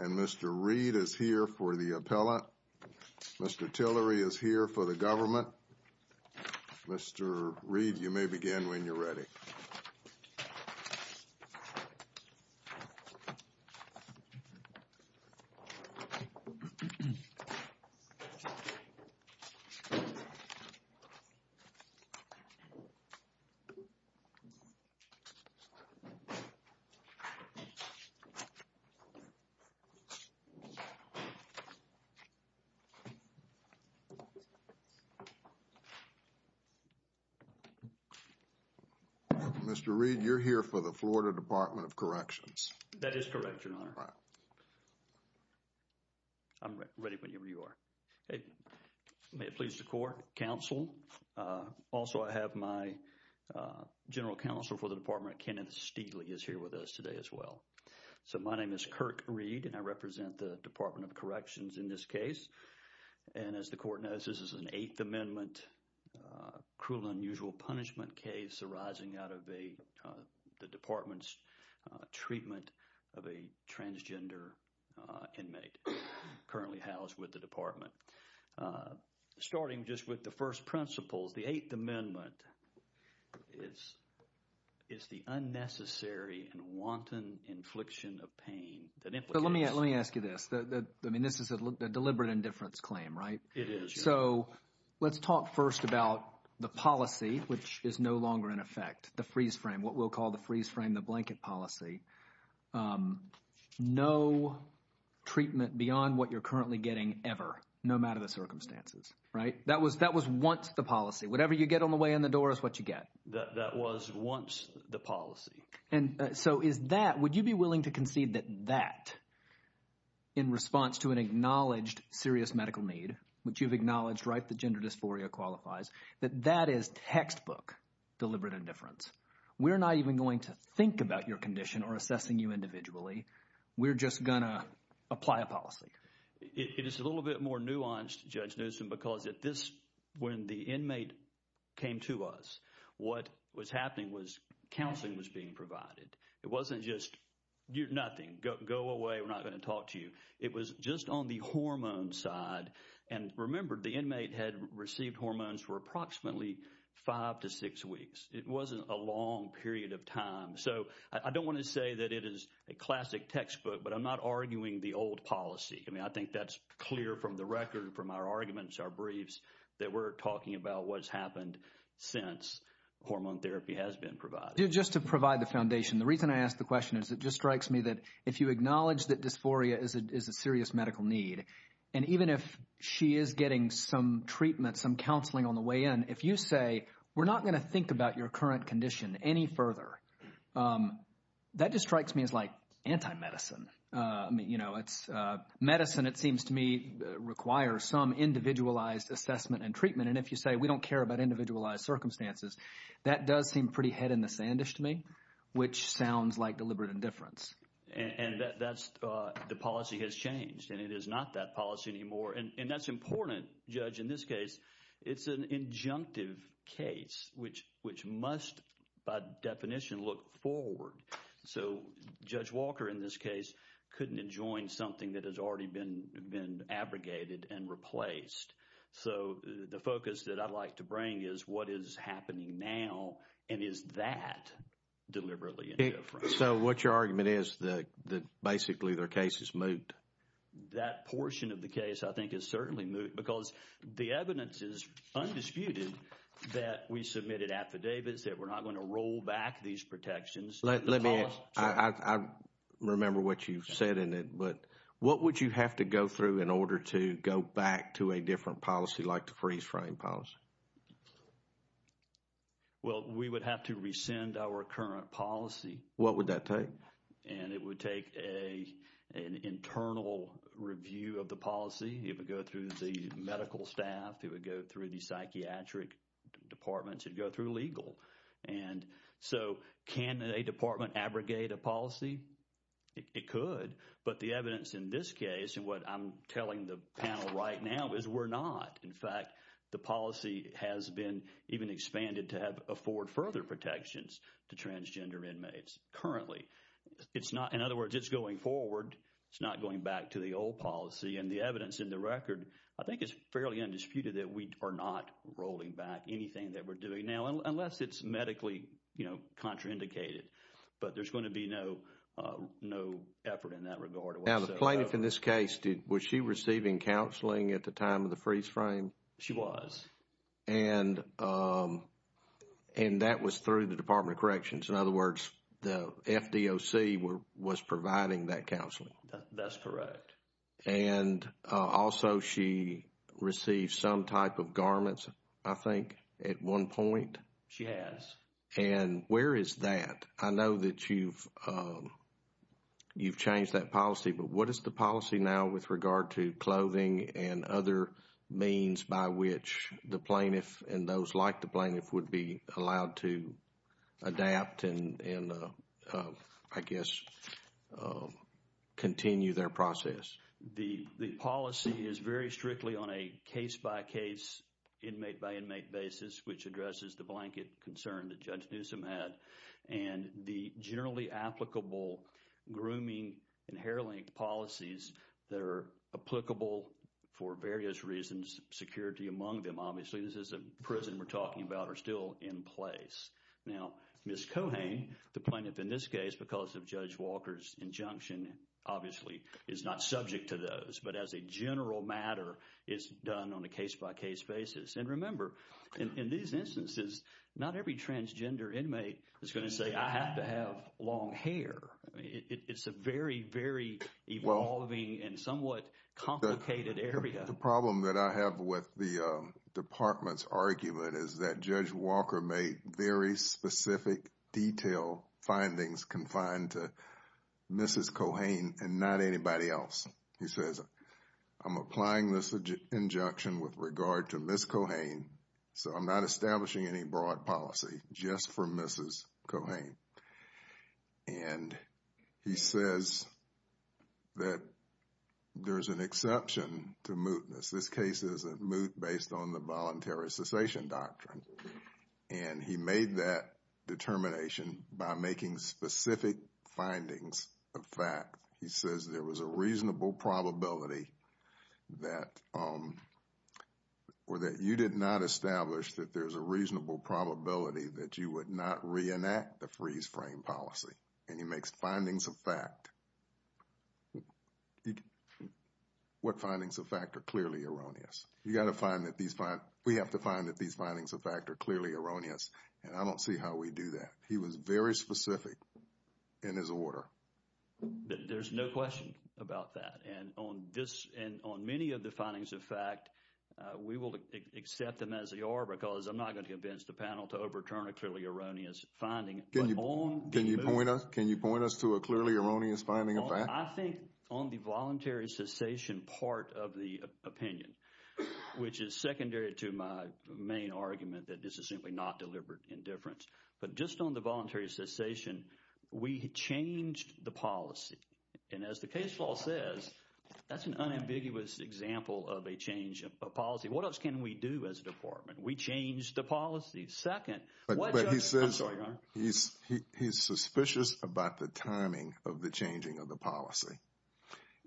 And Mr. Reed is here for the appellate. Mr. Tillery is here for the government. Mr. Reed, you may begin when you're ready. Thank you. Mr. Reed, you're here for the Florida Department of Corrections. That is correct, Your Honor. I'm ready whenever you are. May it please the Court, Counsel. Also, I have my General Counsel for the Department, Kenneth Steeley, is here with us today as well. So, my name is Kirk Reed and I represent the Department of Corrections in this case. And as the Court knows, this is an Eighth Amendment, cruel and unusual punishment case arising out of the Department's treatment of a transgender inmate currently housed with the Department. Starting just with the first principles, the Eighth Amendment is the unnecessary and wanton infliction of pain. Let me ask you this. I mean, this is a deliberate indifference claim, right? It is. So, let's talk first about the policy, which is no longer in effect, the freeze frame, what we'll call the freeze frame, the blanket policy. No treatment beyond what you're currently getting ever, no matter the circumstances, right? That was once the policy. Whatever you get on the way in the door is what you get. That was once the policy. And so is that – would you be willing to concede that that, in response to an acknowledged serious medical need, which you've acknowledged, right, the gender dysphoria qualifies, that that is textbook deliberate indifference? We're not even going to think about your condition or assessing you individually. We're just going to apply a policy. It is a little bit more nuanced, Judge Newsom, because at this – when the inmate came to us, what was happening was counseling was being provided. It wasn't just nothing, go away, we're not going to talk to you. It was just on the hormone side, and remember, the inmate had received hormones for approximately five to six weeks. It wasn't a long period of time. So I don't want to say that it is a classic textbook, but I'm not arguing the old policy. I mean, I think that's clear from the record, from our arguments, our briefs, that we're talking about what's happened since hormone therapy has been provided. Just to provide the foundation, the reason I ask the question is it just strikes me that if you acknowledge that dysphoria is a serious medical need, and even if she is getting some treatment, some counseling on the way in, if you say, we're not going to think about your current condition any further, that just strikes me as like anti-medicine. Medicine, it seems to me, requires some individualized assessment and treatment. And if you say, we don't care about individualized circumstances, that does seem pretty head in the sand-ish to me, which sounds like deliberate indifference. And that's – the policy has changed, and it is not that policy anymore. And that's important, Judge, in this case. It's an injunctive case, which must, by definition, look forward. So Judge Walker, in this case, couldn't enjoin something that has already been abrogated and replaced. So the focus that I'd like to bring is what is happening now, and is that deliberately indifference? So what your argument is, that basically their case is moot? That portion of the case, I think, is certainly moot because the evidence is undisputed that we submitted affidavits, that we're not going to roll back these protections. Let me – I remember what you've said in it. But what would you have to go through in order to go back to a different policy like the freeze-frame policy? Well, we would have to rescind our current policy. What would that take? And it would take an internal review of the policy. It would go through the medical staff. It would go through the psychiatric departments. It would go through legal. And so can a department abrogate a policy? It could, but the evidence in this case and what I'm telling the panel right now is we're not. In fact, the policy has been even expanded to have – afford further protections to transgender inmates currently. It's not – in other words, it's going forward. It's not going back to the old policy. And the evidence in the record, I think, is fairly undisputed that we are not rolling back anything that we're doing now. Unless it's medically, you know, contraindicated. But there's going to be no effort in that regard. Now, the plaintiff in this case, was she receiving counseling at the time of the freeze-frame? She was. And that was through the Department of Corrections. In other words, the FDOC was providing that counseling. That's correct. And also, she received some type of garments, I think, at one point. She has. And where is that? I know that you've changed that policy. But what is the policy now with regard to clothing and other means by which the plaintiff and those like the plaintiff would be allowed to adapt and, I guess, continue their process? The policy is very strictly on a case-by-case, inmate-by-inmate basis, which addresses the blanket concern that Judge Newsom had. And the generally applicable grooming and hair-link policies that are applicable for various reasons, security among them, obviously. This is a prison we're talking about, are still in place. Now, Ms. Cohane, the plaintiff in this case, because of Judge Walker's injunction, obviously, is not subject to those. But as a general matter, it's done on a case-by-case basis. And remember, in these instances, not every transgender inmate is going to say, I have to have long hair. It's a very, very evolving and somewhat complicated area. The problem that I have with the department's argument is that Judge Walker made very specific, detailed findings confined to Mrs. Cohane and not anybody else. He says, I'm applying this injunction with regard to Ms. Cohane, so I'm not establishing any broad policy just for Mrs. Cohane. And he says that there's an exception to mootness. This case is a moot based on the voluntary cessation doctrine. And he made that determination by making specific findings of fact. He says there was a reasonable probability that, or that you did not establish that there's a reasonable probability that you would not reenact the freeze frame policy. And he makes findings of fact. What findings of fact are clearly erroneous? You got to find that these, we have to find that these findings of fact are clearly erroneous. And I don't see how we do that. He was very specific in his order. There's no question about that. And on this, and on many of the findings of fact, we will accept them as they are because I'm not going to convince the panel to overturn a clearly erroneous finding. Can you point us to a clearly erroneous finding of fact? I think on the voluntary cessation part of the opinion, which is secondary to my main argument that this is simply not deliberate indifference. But just on the voluntary cessation, we changed the policy. And as the case law says, that's an unambiguous example of a change of policy. What else can we do as a department? We changed the policy. Second, what judge, I'm sorry, Your Honor. He's suspicious about the timing of the changing of the policy.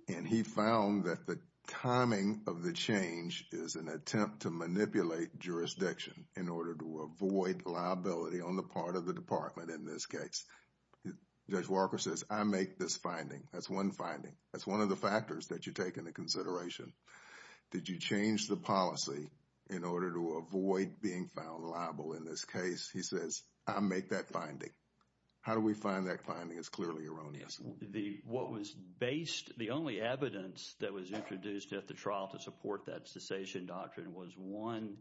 And he found that the timing of the change is an attempt to manipulate jurisdiction in order to avoid liability on the part of the department in this case. Judge Walker says, I make this finding. That's one finding. That's one of the factors that you take into consideration. Did you change the policy in order to avoid being found liable in this case? He says, I make that finding. How do we find that finding is clearly erroneous? What was based, the only evidence that was introduced at the trial to support that cessation doctrine was one,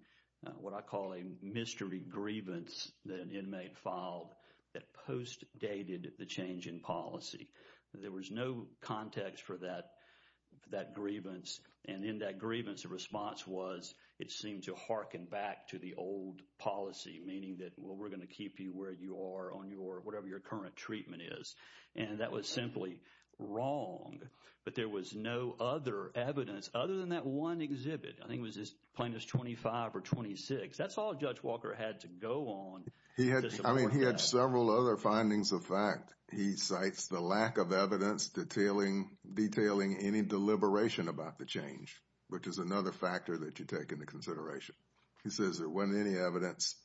what I call a mystery grievance that an inmate filed that postdated the change in policy. There was no context for that grievance. And in that grievance, the response was it seemed to harken back to the old policy, meaning that, well, we're going to keep you where you are on your, whatever your current treatment is. And that was simply wrong. But there was no other evidence other than that one exhibit. I think it was plaintiff's 25 or 26. That's all Judge Walker had to go on. I mean, he had several other findings of fact. He cites the lack of evidence detailing any deliberation about the change, which is another factor that you take into consideration. He says there wasn't any evidence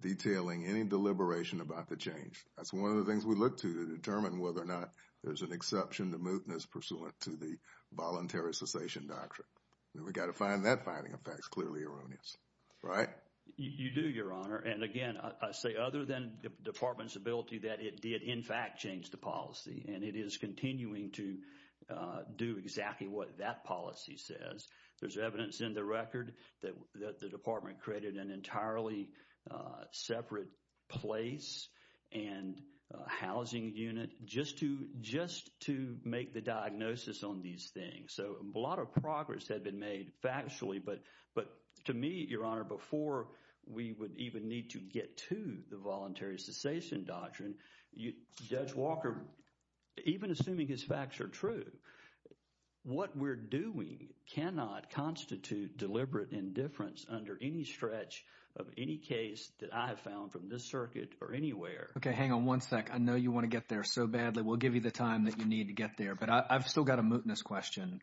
detailing any deliberation about the change. That's one of the things we look to to determine whether or not there's an exception to mootness pursuant to the voluntary cessation doctrine. We've got to find that finding of facts clearly erroneous, right? You do, Your Honor. And, again, I say other than the department's ability that it did, in fact, change the policy. And it is continuing to do exactly what that policy says. There's evidence in the record that the department created an entirely separate place and housing unit just to make the diagnosis on these things. So a lot of progress had been made factually. But to me, Your Honor, before we would even need to get to the voluntary cessation doctrine, Judge Walker, even assuming his facts are true, what we're doing… We cannot constitute deliberate indifference under any stretch of any case that I have found from this circuit or anywhere. Okay, hang on one sec. I know you want to get there so badly. We'll give you the time that you need to get there. But I've still got a mootness question.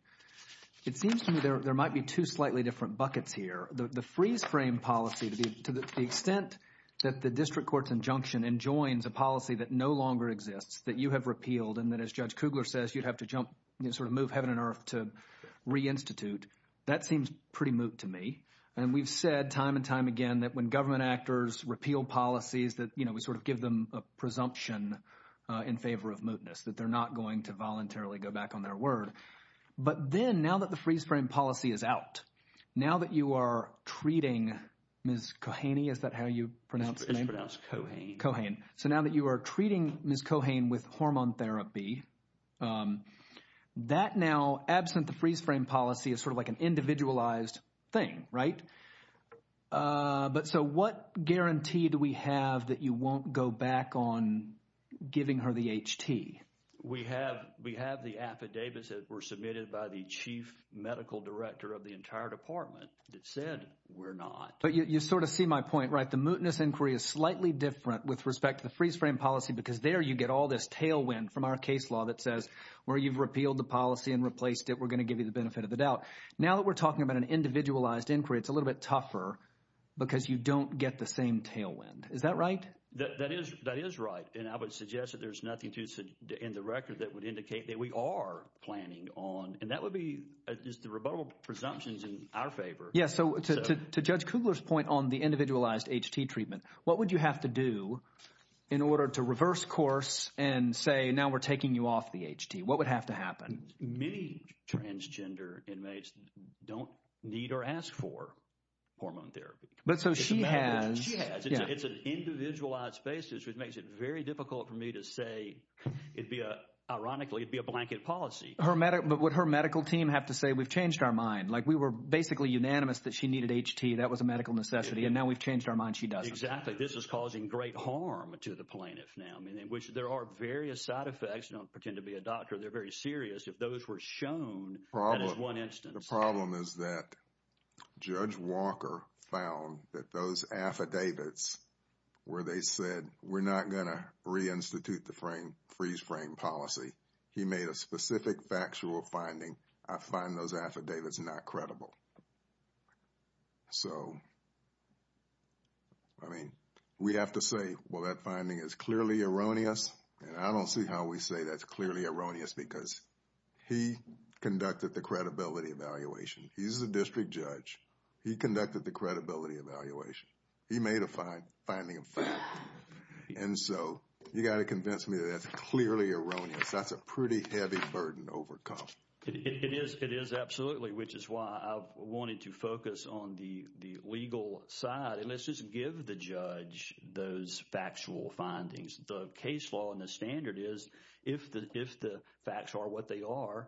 It seems to me there might be two slightly different buckets here. The freeze frame policy, to the extent that the district court's injunction enjoins a policy that no longer exists, that you have repealed, and that, as Judge Kugler says, you'd have to jump, sort of move heaven and earth to reinstitute, that seems pretty moot to me. And we've said time and time again that when government actors repeal policies that, you know, we sort of give them a presumption in favor of mootness, that they're not going to voluntarily go back on their word. But then, now that the freeze frame policy is out, now that you are treating Ms. Kohane, is that how you pronounce her name? It's pronounced Kohane. Kohane. So now that you are treating Ms. Kohane with hormone therapy, that now, absent the freeze frame policy, is sort of like an individualized thing, right? But so what guarantee do we have that you won't go back on giving her the HT? We have the affidavits that were submitted by the chief medical director of the entire department that said we're not. But you sort of see my point, right? The mootness inquiry is slightly different with respect to the freeze frame policy because there you get all this tailwind from our case law that says where you've repealed the policy and replaced it, we're going to give you the benefit of the doubt. Now that we're talking about an individualized inquiry, it's a little bit tougher because you don't get the same tailwind. Is that right? That is right. And I would suggest that there's nothing in the record that would indicate that we are planning on. And that would be just the rebuttable presumptions in our favor. Yes. So to Judge Kugler's point on the individualized HT treatment, what would you have to do in order to reverse course and say now we're taking you off the HT? What would have to happen? Many transgender inmates don't need or ask for hormone therapy. But so she has. She has. It's an individualized basis, which makes it very difficult for me to say it'd be a – ironically, it'd be a blanket policy. But would her medical team have to say we've changed our mind? Like we were basically unanimous that she needed HT. That was a medical necessity, and now we've changed our mind she doesn't. Exactly. This is causing great harm to the plaintiff now, which there are various side effects. Don't pretend to be a doctor. They're very serious. If those were shown, that is one instance. The problem is that Judge Walker found that those affidavits where they said we're not going to reinstitute the freeze frame policy. He made a specific factual finding. I find those affidavits not credible. So, I mean, we have to say, well, that finding is clearly erroneous. And I don't see how we say that's clearly erroneous because he conducted the credibility evaluation. He's the district judge. He conducted the credibility evaluation. He made a finding of fact. And so you've got to convince me that that's clearly erroneous. That's a pretty heavy burden to overcome. It is. It is, absolutely, which is why I wanted to focus on the legal side. And let's just give the judge those factual findings. The case law and the standard is if the facts are what they are,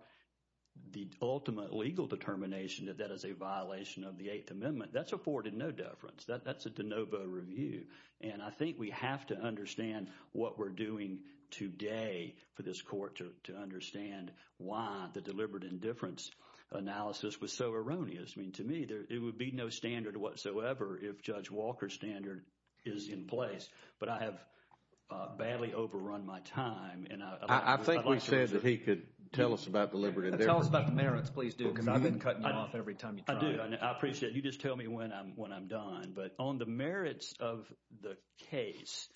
the ultimate legal determination that that is a violation of the Eighth Amendment, that's afforded no deference. That's a de novo review. And I think we have to understand what we're doing today for this court to understand why the deliberate indifference analysis was so erroneous. I mean, to me, there would be no standard whatsoever if Judge Walker's standard is in place. But I have badly overrun my time. I think we said that he could tell us about deliberate indifference. Tell us about the merits. Please do because I've been cutting you off every time you try. I do. I appreciate it. You just tell me when I'm done. But on the merits of the case,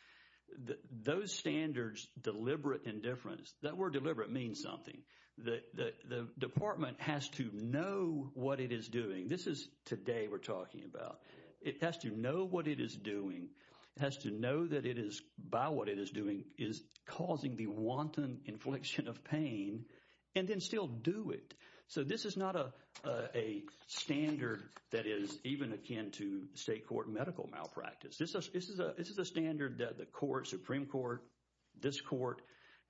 those standards, deliberate indifference, that word deliberate means something. The department has to know what it is doing. This is today we're talking about. It has to know what it is doing. It has to know that it is, by what it is doing, is causing the wanton inflection of pain and then still do it. So this is not a standard that is even akin to state court medical malpractice. This is a standard that the court, Supreme Court, this court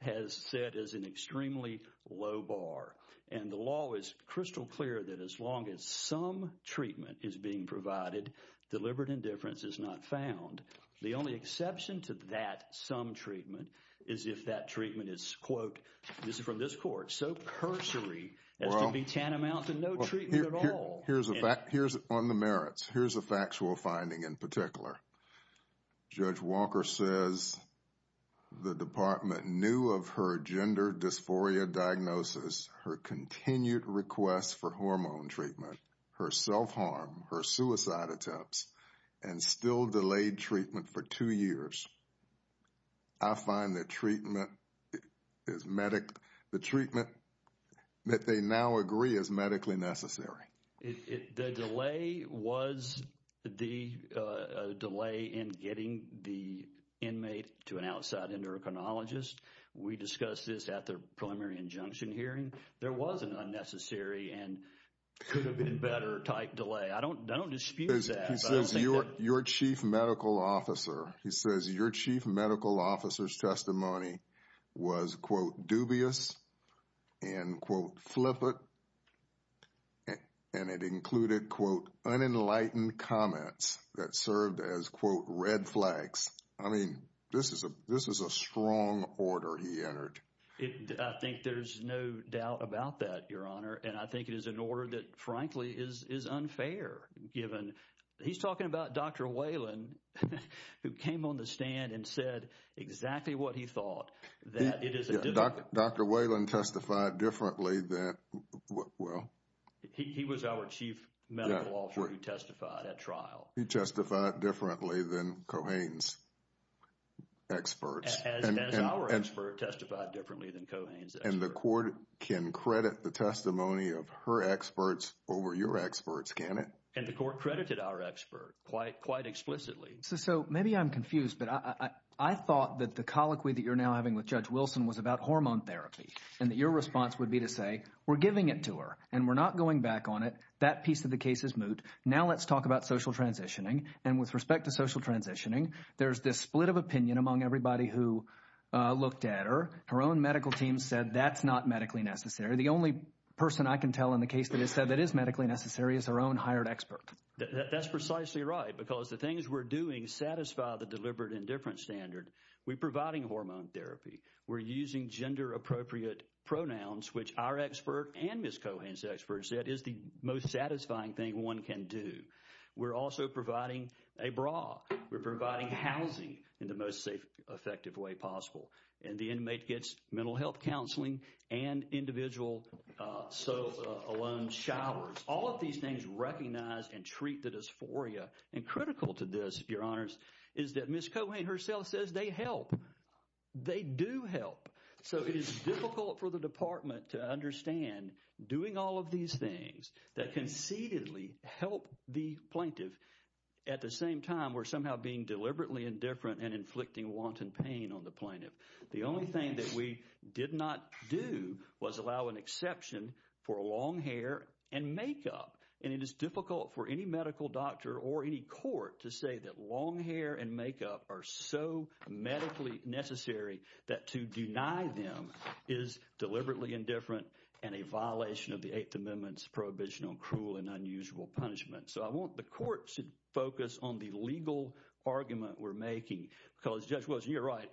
has set as an extremely low bar. And the law is crystal clear that as long as some treatment is being provided, deliberate indifference is not found. The only exception to that some treatment is if that treatment is, quote, this is from this court, so cursory as to be tantamount to no treatment at all. Here's a fact, here's on the merits. Here's a factual finding in particular. Judge Walker says the department knew of her gender dysphoria diagnosis, her continued request for hormone treatment, her self-harm, her suicide attempts, and still delayed treatment for two years. I find the treatment that they now agree is medically necessary. The delay was the delay in getting the inmate to an outside endocrinologist. We discussed this at the preliminary injunction hearing. There was an unnecessary and could have been better type delay. I don't dispute that. He says your chief medical officer, he says your chief medical officer's testimony was, quote, dubious and, quote, flippant. And it included, quote, unenlightened comments that served as, quote, red flags. I mean, this is a strong order he entered. I think there's no doubt about that, Your Honor. And I think it is an order that, frankly, is unfair given. He's talking about Dr. Whalen, who came on the stand and said exactly what he thought, that it is a— Dr. Whalen testified differently than—well— He was our chief medical officer who testified at trial. He testified differently than Kohane's experts. As our expert, testified differently than Kohane's experts. And the court can credit the testimony of her experts over your experts, can it? And the court credited our expert quite explicitly. So maybe I'm confused, but I thought that the colloquy that you're now having with Judge Wilson was about hormone therapy. And that your response would be to say we're giving it to her and we're not going back on it. That piece of the case is moot. Now let's talk about social transitioning. And with respect to social transitioning, there's this split of opinion among everybody who looked at her. Her own medical team said that's not medically necessary. The only person I can tell in the case that has said that is medically necessary is her own hired expert. That's precisely right, because the things we're doing satisfy the deliberate indifference standard. We're providing hormone therapy. We're using gender-appropriate pronouns, which our expert and Ms. Kohane's experts said is the most satisfying thing one can do. We're also providing a bra. We're providing housing in the most safe, effective way possible. And the inmate gets mental health counseling and individual sofa alone showers. All of these things recognize and treat the dysphoria. And critical to this, your honors, is that Ms. Kohane herself says they help. They do help. So it is difficult for the department to understand doing all of these things that conceitedly help the plaintiff. At the same time, we're somehow being deliberately indifferent and inflicting wanton pain on the plaintiff. The only thing that we did not do was allow an exception for long hair and makeup. And it is difficult for any medical doctor or any court to say that long hair and makeup are so medically necessary that to deny them is deliberately indifferent and a violation of the Eighth Amendment's Prohibition on Cruel and Unusual Punishment. So I want the courts to focus on the legal argument we're making because Judge Wilson, you're right.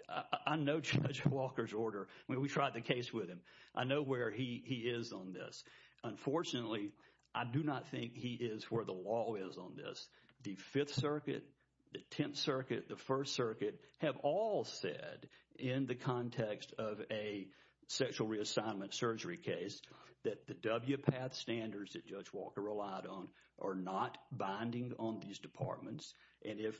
I know Judge Walker's order. I mean, we tried the case with him. I know where he is on this. Unfortunately, I do not think he is where the law is on this. The Fifth Circuit, the Tenth Circuit, the First Circuit have all said in the context of a sexual reassignment surgery case that the WPATH standards that Judge Walker relied on are not binding on these departments. And if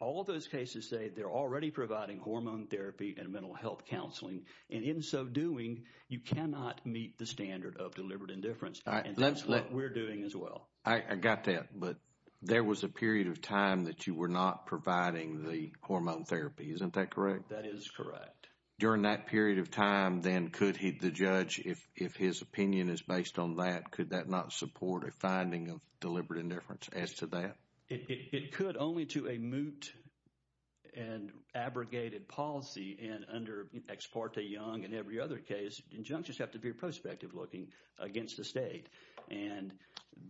all those cases say they're already providing hormone therapy and mental health counseling, and in so doing, you cannot meet the standard of deliberate indifference. And that's what we're doing as well. I got that. But there was a period of time that you were not providing the hormone therapy. Isn't that correct? That is correct. During that period of time, then, could the judge, if his opinion is based on that, could that not support a finding of deliberate indifference as to that? It could only to a moot and abrogated policy. And under Ex parte Young and every other case, injunctions have to be prospective looking against the state. And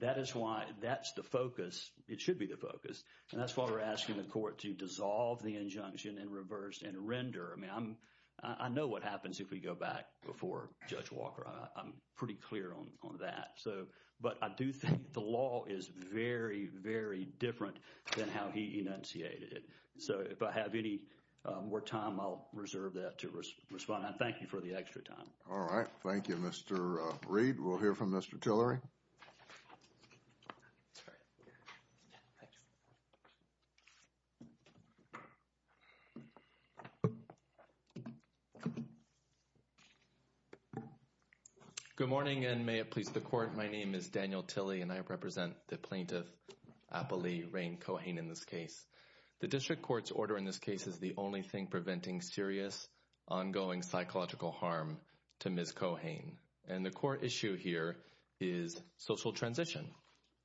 that is why that's the focus. It should be the focus. And that's why we're asking the court to dissolve the injunction and reverse and render. I mean, I know what happens if we go back before Judge Walker. I'm pretty clear on that. But I do think the law is very, very different than how he enunciated it. So, if I have any more time, I'll reserve that to respond. And thank you for the extra time. All right. Thank you, Mr. Reed. We'll hear from Mr. Tillery. Good morning and may it please the court. My name is Daniel Tilley and I represent the plaintiff, Appali Rain Cohen, in this case. The district court's order in this case is the only thing preventing serious ongoing psychological harm to Ms. Cohen. And the court issue here is social transition.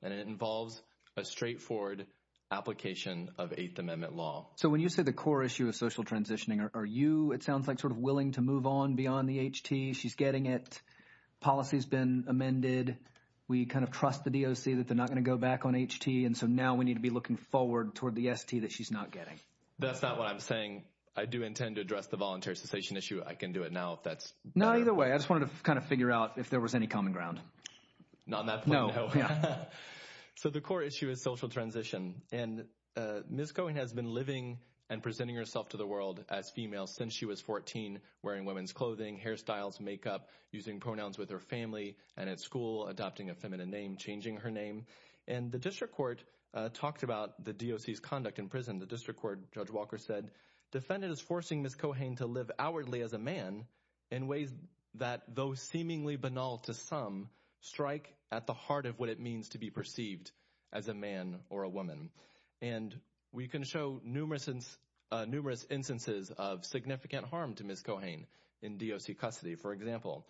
And it involves a straightforward application of Eighth Amendment law. So, when you say the core issue of social transitioning, are you, it sounds like, sort of willing to move on beyond the HT? She's getting it. Policy has been amended. We kind of trust the DOC that they're not going to go back on HT. And so, now we need to be looking forward toward the ST that she's not getting. That's not what I'm saying. I do intend to address the voluntary cessation issue. I can do it now if that's clear. No, either way. I just wanted to kind of figure out if there was any common ground. Not on that point. No. Yeah. So, the core issue is social transition. And Ms. Cohen has been living and presenting herself to the world as female since she was 14, wearing women's clothing, hairstyles, makeup, using pronouns with her family, and at school, adopting a feminine name, changing her name. And the district court talked about the DOC's conduct in prison. The district court, Judge Walker said, defendant is forcing Ms. Cohen to live outwardly as a man in ways that, though seemingly banal to some, strike at the heart of what it means to be perceived as a man or a woman. And we can show numerous instances of significant harm to Ms. Cohen in DOC custody. For example,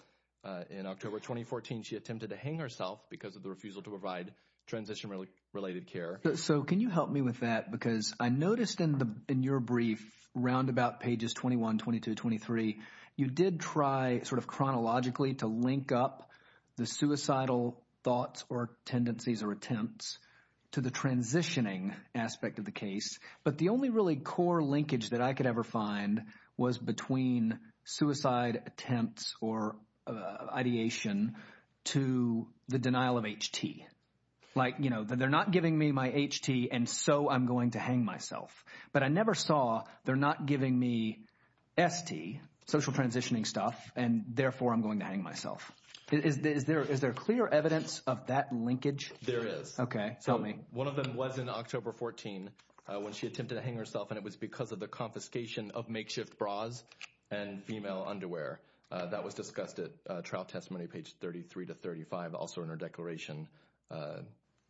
in October 2014, she attempted to hang herself because of the refusal to provide transition-related care. So, can you help me with that? Because I noticed in your brief, roundabout pages 21, 22, 23, you did try sort of chronologically to link up the suicidal thoughts or tendencies or attempts to the transitioning aspect of the case. But the only really core linkage that I could ever find was between suicide attempts or ideation to the denial of HT. Like, you know, they're not giving me my HT, and so I'm going to hang myself. But I never saw they're not giving me ST, social transitioning stuff, and therefore I'm going to hang myself. Is there clear evidence of that linkage? There is. Okay. Help me. One of them was in October 2014 when she attempted to hang herself, and it was because of the confiscation of makeshift bras and female underwear. That was discussed at trial testimony, page 33 to 35, also in her declaration.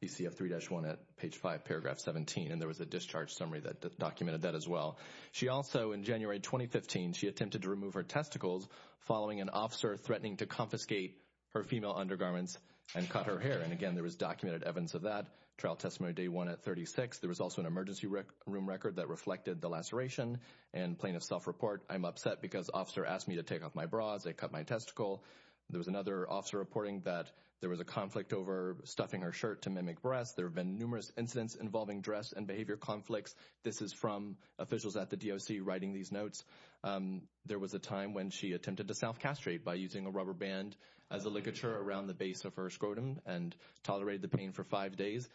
ECF 3-1 at page 5, paragraph 17, and there was a discharge summary that documented that as well. She also, in January 2015, she attempted to remove her testicles following an officer threatening to confiscate her female undergarments and cut her hair. And, again, there was documented evidence of that. Trial testimony day one at 36. There was also an emergency room record that reflected the laceration. And plaintiff's self-report, I'm upset because officer asked me to take off my bras. They cut my testicle. There was another officer reporting that there was a conflict over stuffing her shirt to mimic breasts. There have been numerous incidents involving dress and behavior conflicts. This is from officials at the DOC writing these notes. There was a time when she attempted to self-castrate by using a rubber band as a ligature around the base of her scrotum and tolerated the pain for five days.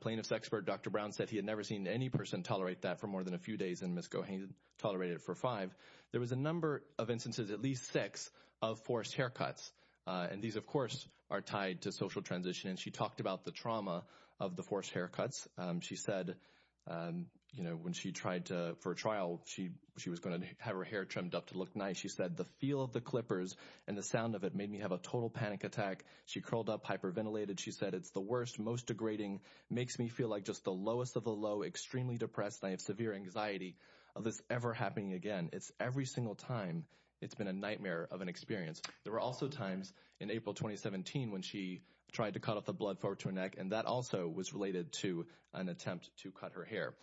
Plaintiff's expert, Dr. Brown, said he had never seen any person tolerate that for more than a few days, and Ms. Cohan tolerated it for five. There was a number of instances, at least six, of forced haircuts. And these, of course, are tied to social transition, and she talked about the trauma of the forced haircuts. She said, you know, when she tried to, for a trial, she was going to have her hair trimmed up to look nice. She said, the feel of the clippers and the sound of it made me have a total panic attack. She curled up, hyperventilated. She said, it's the worst, most degrading, makes me feel like just the lowest of the low, extremely depressed. I have severe anxiety of this ever happening again. It's every single time, it's been a nightmare of an experience. There were also times in April 2017 when she tried to cut off the blood flow to her neck, and that also was related to an attempt to cut her hair.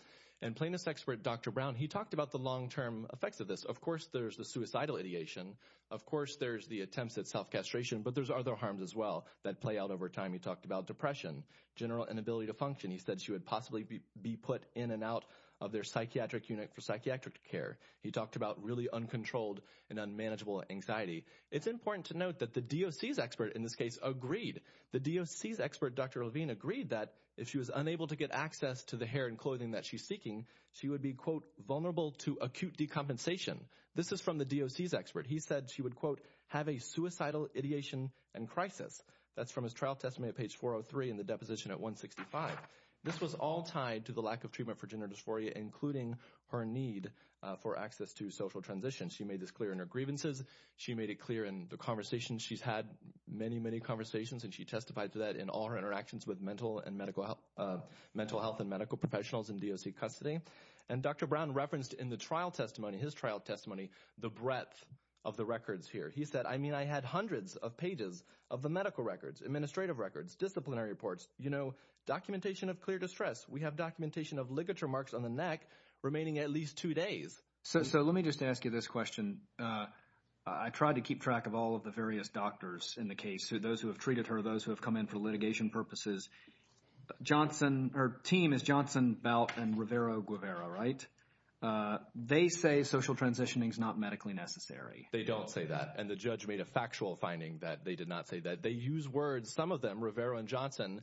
And plaintiff's expert, Dr. Brown, he talked about the long-term effects of this. Of course, there's the suicidal ideation. Of course, there's the attempts at self-castration, but there's other harms as well that play out over time. He talked about depression, general inability to function. He said she would possibly be put in and out of their psychiatric unit for psychiatric care. He talked about really uncontrolled and unmanageable anxiety. It's important to note that the DOC's expert in this case agreed. The DOC's expert, Dr. Levine, agreed that if she was unable to get access to the hair and clothing that she's seeking, she would be, quote, vulnerable to acute decompensation. This is from the DOC's expert. He said she would, quote, have a suicidal ideation and crisis. That's from his trial testimony at page 403 in the deposition at 165. This was all tied to the lack of treatment for gender dysphoria, including her need for access to social transition. She made this clear in her grievances. She made it clear in the conversations. She's had many, many conversations, and she testified to that in all her interactions with mental health and medical professionals in DOC custody. And Dr. Brown referenced in the trial testimony, his trial testimony, the breadth of the records here. He said, I mean, I had hundreds of pages of the medical records, administrative records, disciplinary reports, documentation of clear distress. We have documentation of ligature marks on the neck remaining at least two days. So let me just ask you this question. I tried to keep track of all of the various doctors in the case, those who have treated her, those who have come in for litigation purposes. Johnson, her team is Johnson, Belt, and Rivera, Guevara, right? They say social transitioning is not medically necessary. They don't say that. And the judge made a factual finding that they did not say that. They use words, some of them, Rivera and Johnson,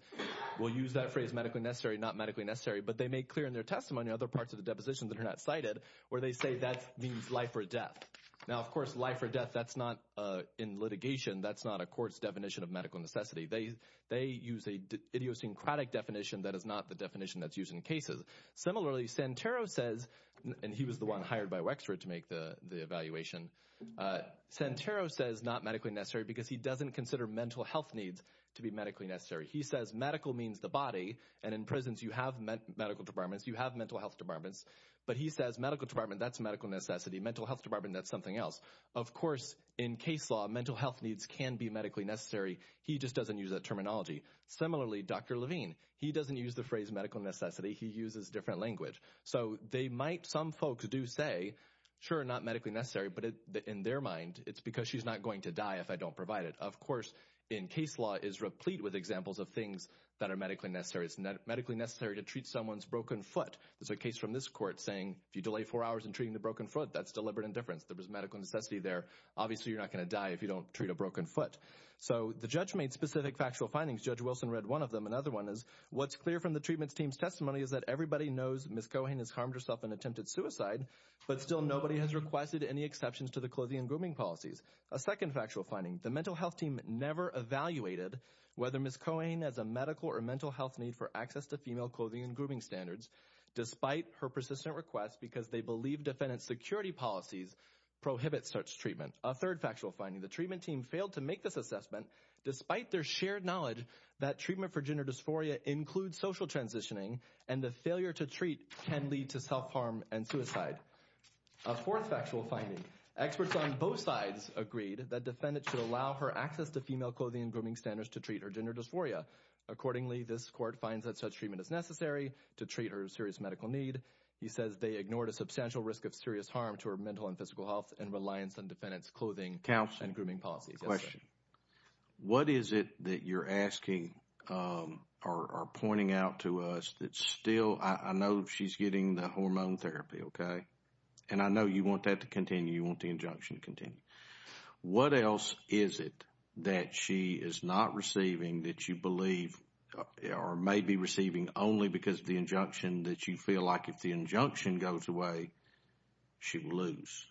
will use that phrase medically necessary, not medically necessary. But they make clear in their testimony other parts of the depositions that are not cited where they say that means life or death. Now, of course, life or death, that's not in litigation. That's not a court's definition of medical necessity. They use a idiosyncratic definition that is not the definition that's used in cases. Similarly, Santero says, and he was the one hired by Wexford to make the evaluation. Santero says not medically necessary because he doesn't consider mental health needs to be medically necessary. He says medical means the body, and in prisons you have medical departments, you have mental health departments. But he says medical department, that's medical necessity. Mental health department, that's something else. Of course, in case law, mental health needs can be medically necessary. He just doesn't use that terminology. Similarly, Dr. Levine, he doesn't use the phrase medical necessity. He uses different language. So they might, some folks do say, sure, not medically necessary. But in their mind, it's because she's not going to die if I don't provide it. Of course, in case law, it's replete with examples of things that are medically necessary. It's medically necessary to treat someone's broken foot. There's a case from this court saying if you delay four hours in treating the broken foot, that's deliberate indifference. There was medical necessity there. Obviously, you're not going to die if you don't treat a broken foot. So the judge made specific factual findings. Judge Wilson read one of them. Another one is, what's clear from the treatment team's testimony is that everybody knows Ms. Cohane has harmed herself and attempted suicide, but still nobody has requested any exceptions to the clothing and grooming policies. A second factual finding, the mental health team never evaluated whether Ms. Cohane has a medical or mental health need for access to female clothing and grooming standards, despite her persistent request, because they believe defendant's security policies prohibit such treatment. A third factual finding, the treatment team failed to make this assessment, despite their shared knowledge that treatment for gender dysphoria includes social transitioning, and the failure to treat can lead to self-harm and suicide. A fourth factual finding, experts on both sides agreed that defendants should allow her access to female clothing and grooming standards to treat her gender dysphoria. Accordingly, this court finds that such treatment is necessary to treat her serious medical need. He says they ignored a substantial risk of serious harm to her mental and physical health and reliance on defendant's clothing and grooming policies. What is it that you're asking or pointing out to us that still, I know she's getting the hormone therapy, okay? And I know you want that to continue, you want the injunction to continue. What else is it that she is not receiving that you believe or may be receiving only because of the injunction that you feel like if the injunction goes away, she will lose?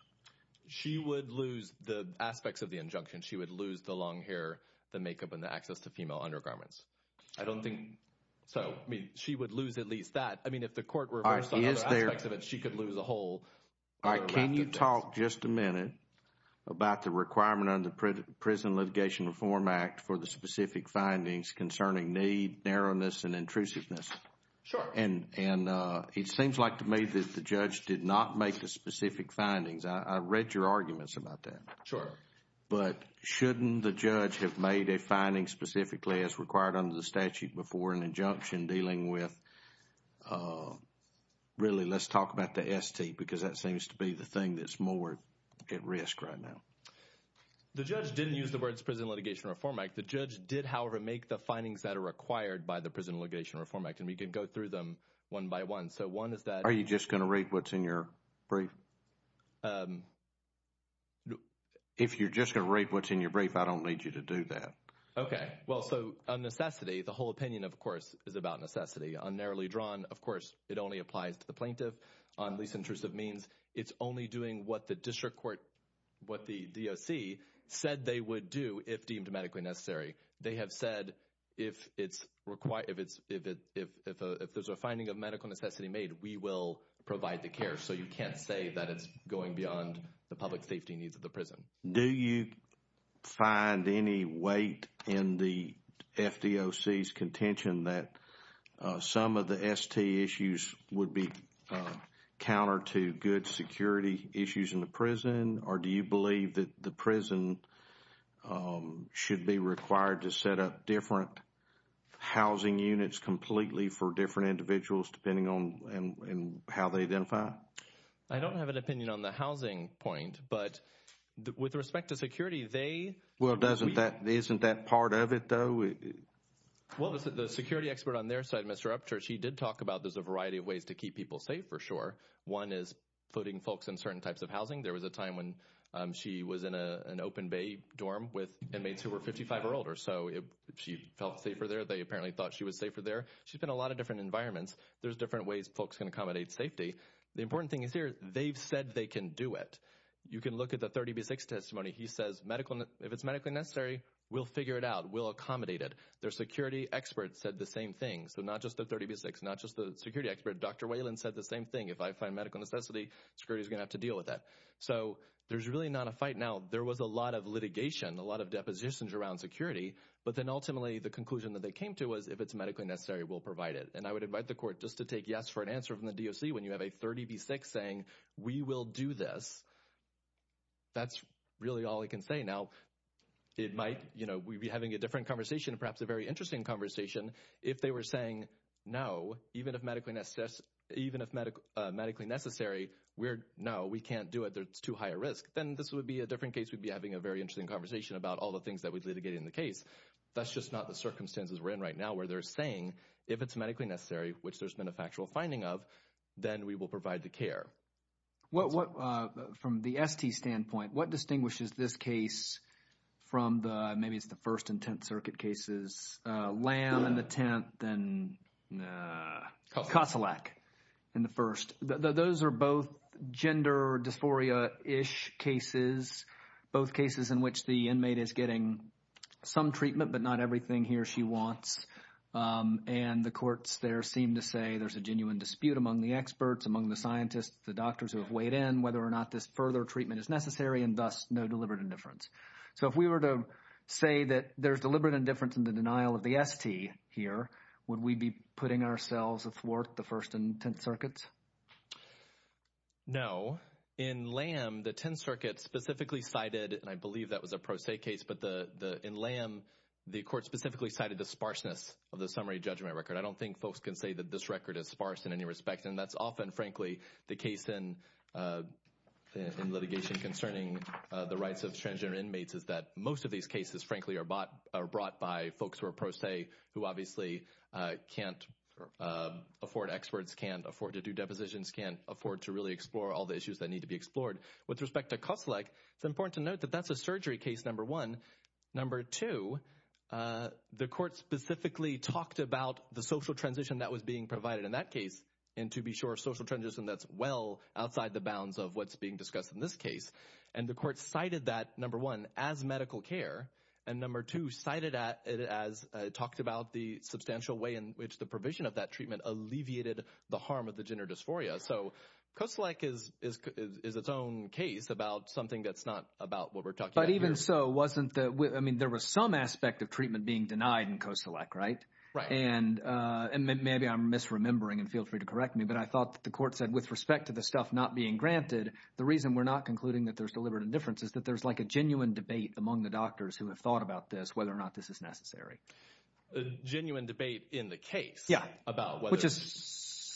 She would lose the aspects of the injunction. She would lose the long hair, the makeup, and the access to female undergarments. I don't think so. I mean, she would lose at least that. I mean, if the court reversed some of the aspects of it, she could lose a whole… All right, can you talk just a minute about the requirement under the Prison Litigation Reform Act for the specific findings concerning need, narrowness, and intrusiveness? Sure. And it seems like to me that the judge did not make the specific findings. I read your arguments about that. Sure. But shouldn't the judge have made a finding specifically as required under the statute before an injunction dealing with, really, let's talk about the ST because that seems to be the thing that's more at risk right now. The judge didn't use the words Prison Litigation Reform Act. The judge did, however, make the findings that are required by the Prison Litigation Reform Act. And we can go through them one by one. So one is that… Are you just going to read what's in your brief? If you're just going to read what's in your brief, I don't need you to do that. Okay. Well, so on necessity, the whole opinion, of course, is about necessity. On narrowly drawn, of course, it only applies to the plaintiff. On least intrusive means, it's only doing what the district court, what the DOC said they would do if deemed medically necessary. They have said if there's a finding of medical necessity made, we will provide the care. So you can't say that it's going beyond the public safety needs of the prison. Do you find any weight in the FDOC's contention that some of the ST issues would be counter to good security issues in the prison? Or do you believe that the prison should be required to set up different housing units completely for different individuals depending on how they identify? I don't have an opinion on the housing point. But with respect to security, they… Well, isn't that part of it, though? Well, the security expert on their side, Mr. Upchurch, he did talk about there's a variety of ways to keep people safe for sure. One is putting folks in certain types of housing. There was a time when she was in an open bay dorm with inmates who were 55 or older. So she felt safer there. They apparently thought she was safer there. She's been in a lot of different environments. There's different ways folks can accommodate safety. The important thing is here, they've said they can do it. You can look at the 30B6 testimony. He says if it's medically necessary, we'll figure it out. We'll accommodate it. Their security expert said the same thing. So not just the 30B6, not just the security expert. Dr. Whalen said the same thing. If I find medical necessity, security is going to have to deal with that. So there's really not a fight now. There was a lot of litigation, a lot of depositions around security. But then ultimately the conclusion that they came to was if it's medically necessary, we'll provide it. And I would invite the court just to take yes for an answer from the DOC when you have a 30B6 saying we will do this. That's really all I can say now. It might, you know, we'd be having a different conversation, perhaps a very interesting conversation if they were saying no, even if medically necessary, we're, no, we can't do it. It's too high a risk. Then this would be a different case. We'd be having a very interesting conversation about all the things that we've litigated in the case. That's just not the circumstances we're in right now where they're saying if it's medically necessary, which there's been a factual finding of, then we will provide the care. From the ST standpoint, what distinguishes this case from the, maybe it's the first and 10th circuit cases, LAM in the 10th and COSILAC in the first. Those are both gender dysphoria-ish cases, both cases in which the inmate is getting some treatment but not everything he or she wants. And the courts there seem to say there's a genuine dispute among the experts, among the scientists, the doctors who have weighed in whether or not this further treatment is necessary and thus no deliberate indifference. So if we were to say that there's deliberate indifference in the denial of the ST here, would we be putting ourselves athwart the first and 10th circuits? No. In LAM, the 10th circuit specifically cited, and I believe that was a pro se case, but in LAM, the court specifically cited the sparseness of the summary judgment record. I don't think folks can say that this record is sparse in any respect, and that's often, frankly, the case in litigation concerning the rights of transgender inmates, is that most of these cases, frankly, are brought by folks who are pro se, who obviously can't afford experts, can't afford to do depositions, can't afford to really explore all the issues that need to be explored. With respect to COSILAC, it's important to note that that's a surgery case, number one. Number two, the court specifically talked about the social transition that was being provided in that case, and to be sure, social transition that's well outside the bounds of what's being discussed in this case, and the court cited that, number one, as medical care, and number two, cited it as it talked about the substantial way in which the provision of that treatment alleviated the harm of the gender dysphoria. So COSILAC is its own case about something that's not about what we're talking about here. But even so, wasn't the—I mean, there was some aspect of treatment being denied in COSILAC, right? Right. And maybe I'm misremembering, and feel free to correct me, but I thought that the court said with respect to the stuff not being granted, the reason we're not concluding that there's deliberate indifference is that there's like a genuine debate among the doctors who have thought about this, whether or not this is necessary. A genuine debate in the case? Yeah. About whether— Which is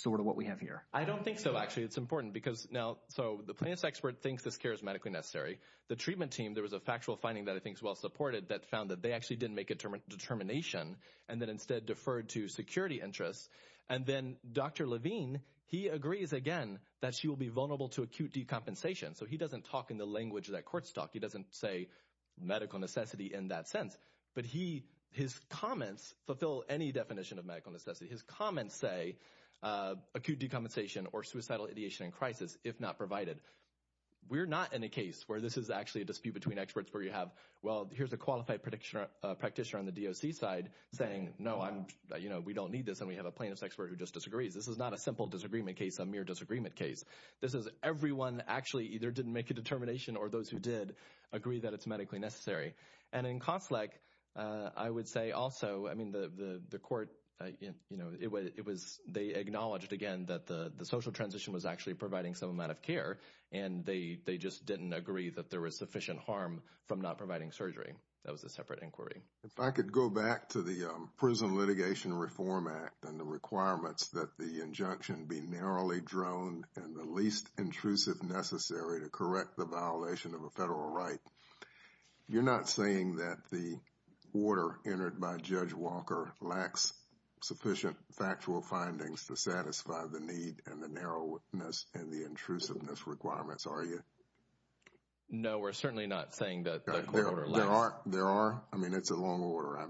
sort of what we have here. I don't think so, actually. It's important because now—so the plaintiff's expert thinks this care is medically necessary. The treatment team, there was a factual finding that I think is well-supported that found that they actually didn't make a determination, and that instead deferred to security interests. And then Dr. Levine, he agrees again that she will be vulnerable to acute decompensation. So he doesn't talk in the language that courts talk. He doesn't say medical necessity in that sense. But his comments fulfill any definition of medical necessity. His comments say acute decompensation or suicidal ideation in crisis, if not provided. We're not in a case where this is actually a dispute between experts where you have, well, here's a qualified practitioner on the DOC side saying, no, we don't need this, and we have a plaintiff's expert who just disagrees. This is not a simple disagreement case, a mere disagreement case. This is everyone actually either didn't make a determination or those who did agree that it's medically necessary. And in Conflict, I would say also, I mean, the court, they acknowledged again that the social transition was actually providing some amount of care, and they just didn't agree that there was sufficient harm from not providing surgery. That was a separate inquiry. If I could go back to the Prison Litigation Reform Act and the requirements that the injunction be narrowly drawn and the least intrusive necessary to correct the violation of a federal right. You're not saying that the order entered by Judge Walker lacks sufficient factual findings to satisfy the need and the narrowness and the intrusiveness requirements, are you? No, we're certainly not saying that. There are, I mean, it's a long order.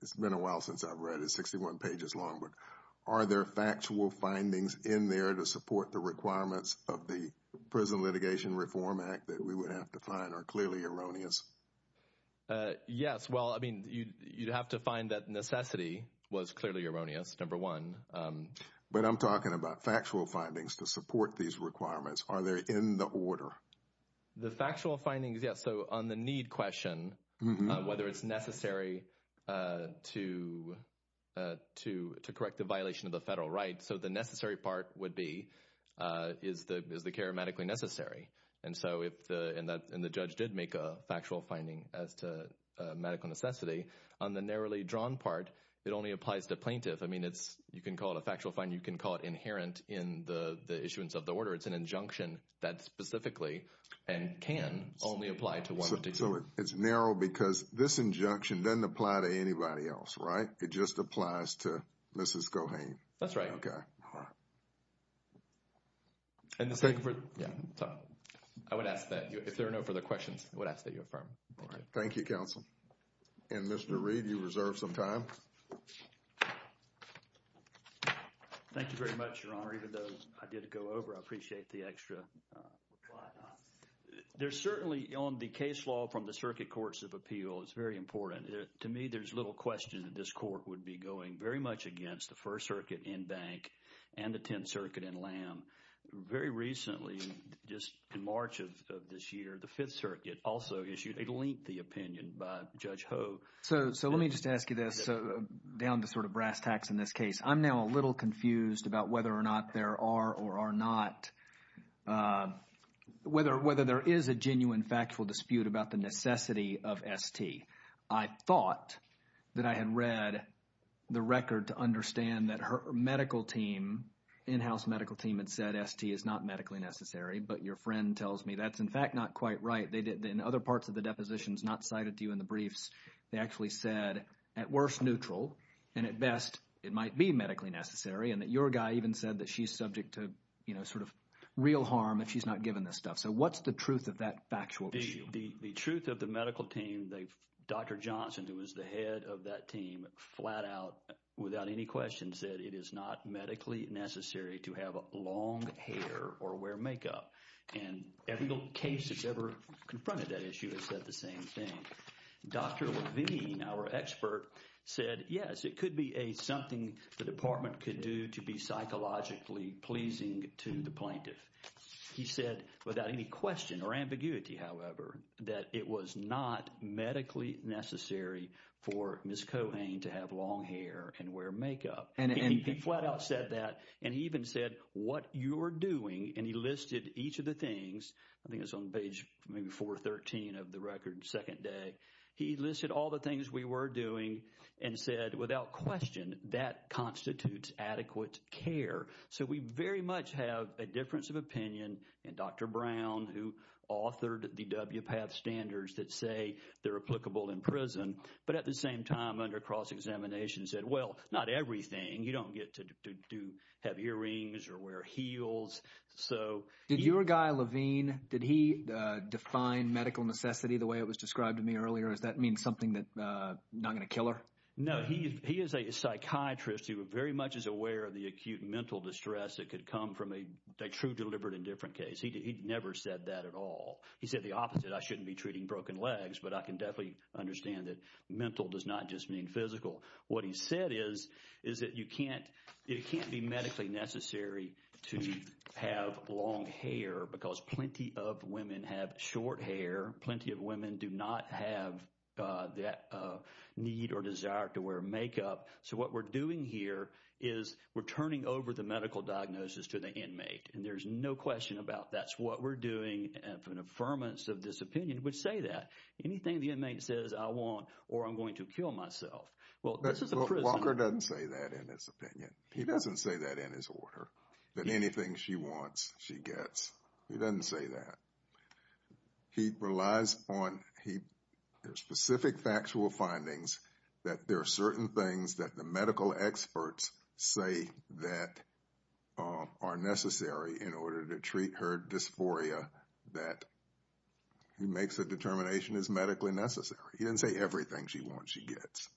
It's been a while since I've read it, 61 pages long. The requirements of the Prison Litigation Reform Act that we would have to find are clearly erroneous. Yes. Well, I mean, you'd have to find that necessity was clearly erroneous. Number one. But I'm talking about factual findings to support these requirements. Are there in the order? The factual findings? Yes. So on the need question, whether it's necessary to correct the violation of the federal right. So the necessary part would be, is the care medically necessary? And so if the judge did make a factual finding as to medical necessity, on the narrowly drawn part, it only applies to plaintiff. I mean, you can call it a factual finding. You can call it inherent in the issuance of the order. It's an injunction that specifically and can only apply to one particular. So it's narrow because this injunction doesn't apply to anybody else, right? It just applies to Mrs. Cohane. That's right. Okay. All right. I would ask that if there are no further questions, I would ask that you affirm. All right. Thank you, counsel. And Mr. Reed, you reserve some time. Thank you very much, Your Honor. Even though I did go over, I appreciate the extra reply. There's certainly on the case law from the Circuit Courts of Appeal, it's very important. To me, there's little question that this court would be going very much against the First Circuit in Bank and the Tenth Circuit in Lamb. Very recently, just in March of this year, the Fifth Circuit also issued a lengthy opinion by Judge Ho. So let me just ask you this, down to sort of brass tacks in this case. I'm now a little confused about whether or not there are or are not – whether there is a genuine factual dispute about the necessity of ST. I thought that I had read the record to understand that her medical team, in-house medical team, had said ST is not medically necessary. But your friend tells me that's, in fact, not quite right. In other parts of the depositions not cited to you in the briefs, they actually said, at worst, neutral. And at best, it might be medically necessary. And that your guy even said that she's subject to, you know, sort of real harm if she's not given this stuff. So what's the truth of that factual issue? The truth of the medical team, Dr. Johnson, who was the head of that team, flat out, without any questions, said it is not medically necessary to have long hair or wear makeup. And every case that's ever confronted that issue has said the same thing. Dr. Levine, our expert, said, yes, it could be something the Department could do to be psychologically pleasing to the plaintiff. He said, without any question or ambiguity, however, that it was not medically necessary for Ms. Cohane to have long hair and wear makeup. And he flat out said that. And he even said, what you're doing, and he listed each of the things. I think it's on page maybe 413 of the record, second day. He listed all the things we were doing and said, without question, that constitutes adequate care. So we very much have a difference of opinion in Dr. Brown, who authored the WPATH standards that say they're applicable in prison, but at the same time under cross-examination said, well, not everything. You don't get to have earrings or wear heels. Did your guy, Levine, did he define medical necessity the way it was described to me earlier? Does that mean something that's not going to kill her? No, he is a psychiatrist who very much is aware of the acute mental distress that could come from a true deliberate indifferent case. He never said that at all. He said the opposite, I shouldn't be treating broken legs, but I can definitely understand that mental does not just mean physical. What he said is that it can't be medically necessary to have long hair because plenty of women have short hair. Plenty of women do not have that need or desire to wear makeup. So what we're doing here is we're turning over the medical diagnosis to the inmate, and there's no question about that's what we're doing. An affirmance of this opinion would say that. Anything the inmate says, I want or I'm going to kill myself. Walker doesn't say that in his opinion. He doesn't say that in his order, that anything she wants, she gets. He doesn't say that. He relies on specific factual findings that there are certain things that the medical experts say that are necessary in order to treat her dysphoria that he makes a determination is medically necessary. He doesn't say everything she wants, she gets.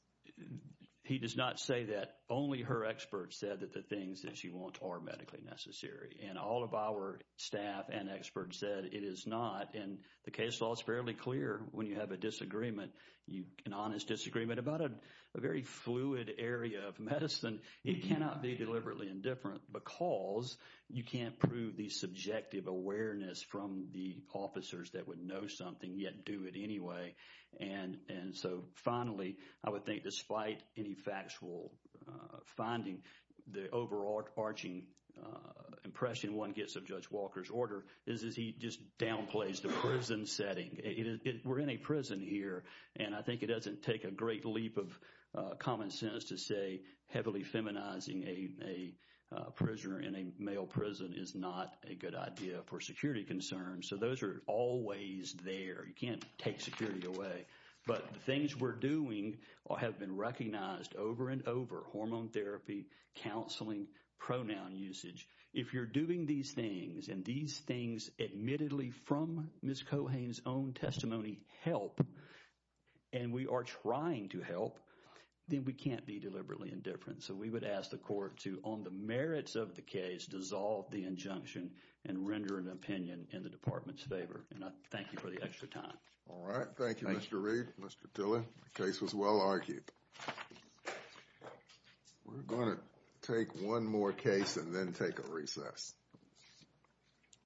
He does not say that. Only her experts said that the things that she wants are medically necessary. And all of our staff and experts said it is not. And the case law is fairly clear when you have a disagreement, an honest disagreement about a very fluid area of medicine. It cannot be deliberately indifferent because you can't prove the subjective awareness from the officers that would know something yet do it anyway. And so finally, I would think despite any factual finding, the overarching impression one gets of Judge Walker's order is he just downplays the prison setting. We're in a prison here, and I think it doesn't take a great leap of common sense to say heavily feminizing a prisoner in a male prison is not a good idea for security concerns. So those are always there. You can't take security away. But the things we're doing have been recognized over and over, hormone therapy, counseling, pronoun usage. If you're doing these things, and these things admittedly from Ms. Cohane's own testimony help, and we are trying to help, then we can't be deliberately indifferent. So we would ask the court to, on the merits of the case, dissolve the injunction and render an opinion in the Department's favor. And I thank you for the extra time. All right. Thank you, Mr. Reed, Mr. Tilley. The case was well argued. We're going to take one more case and then take a recess.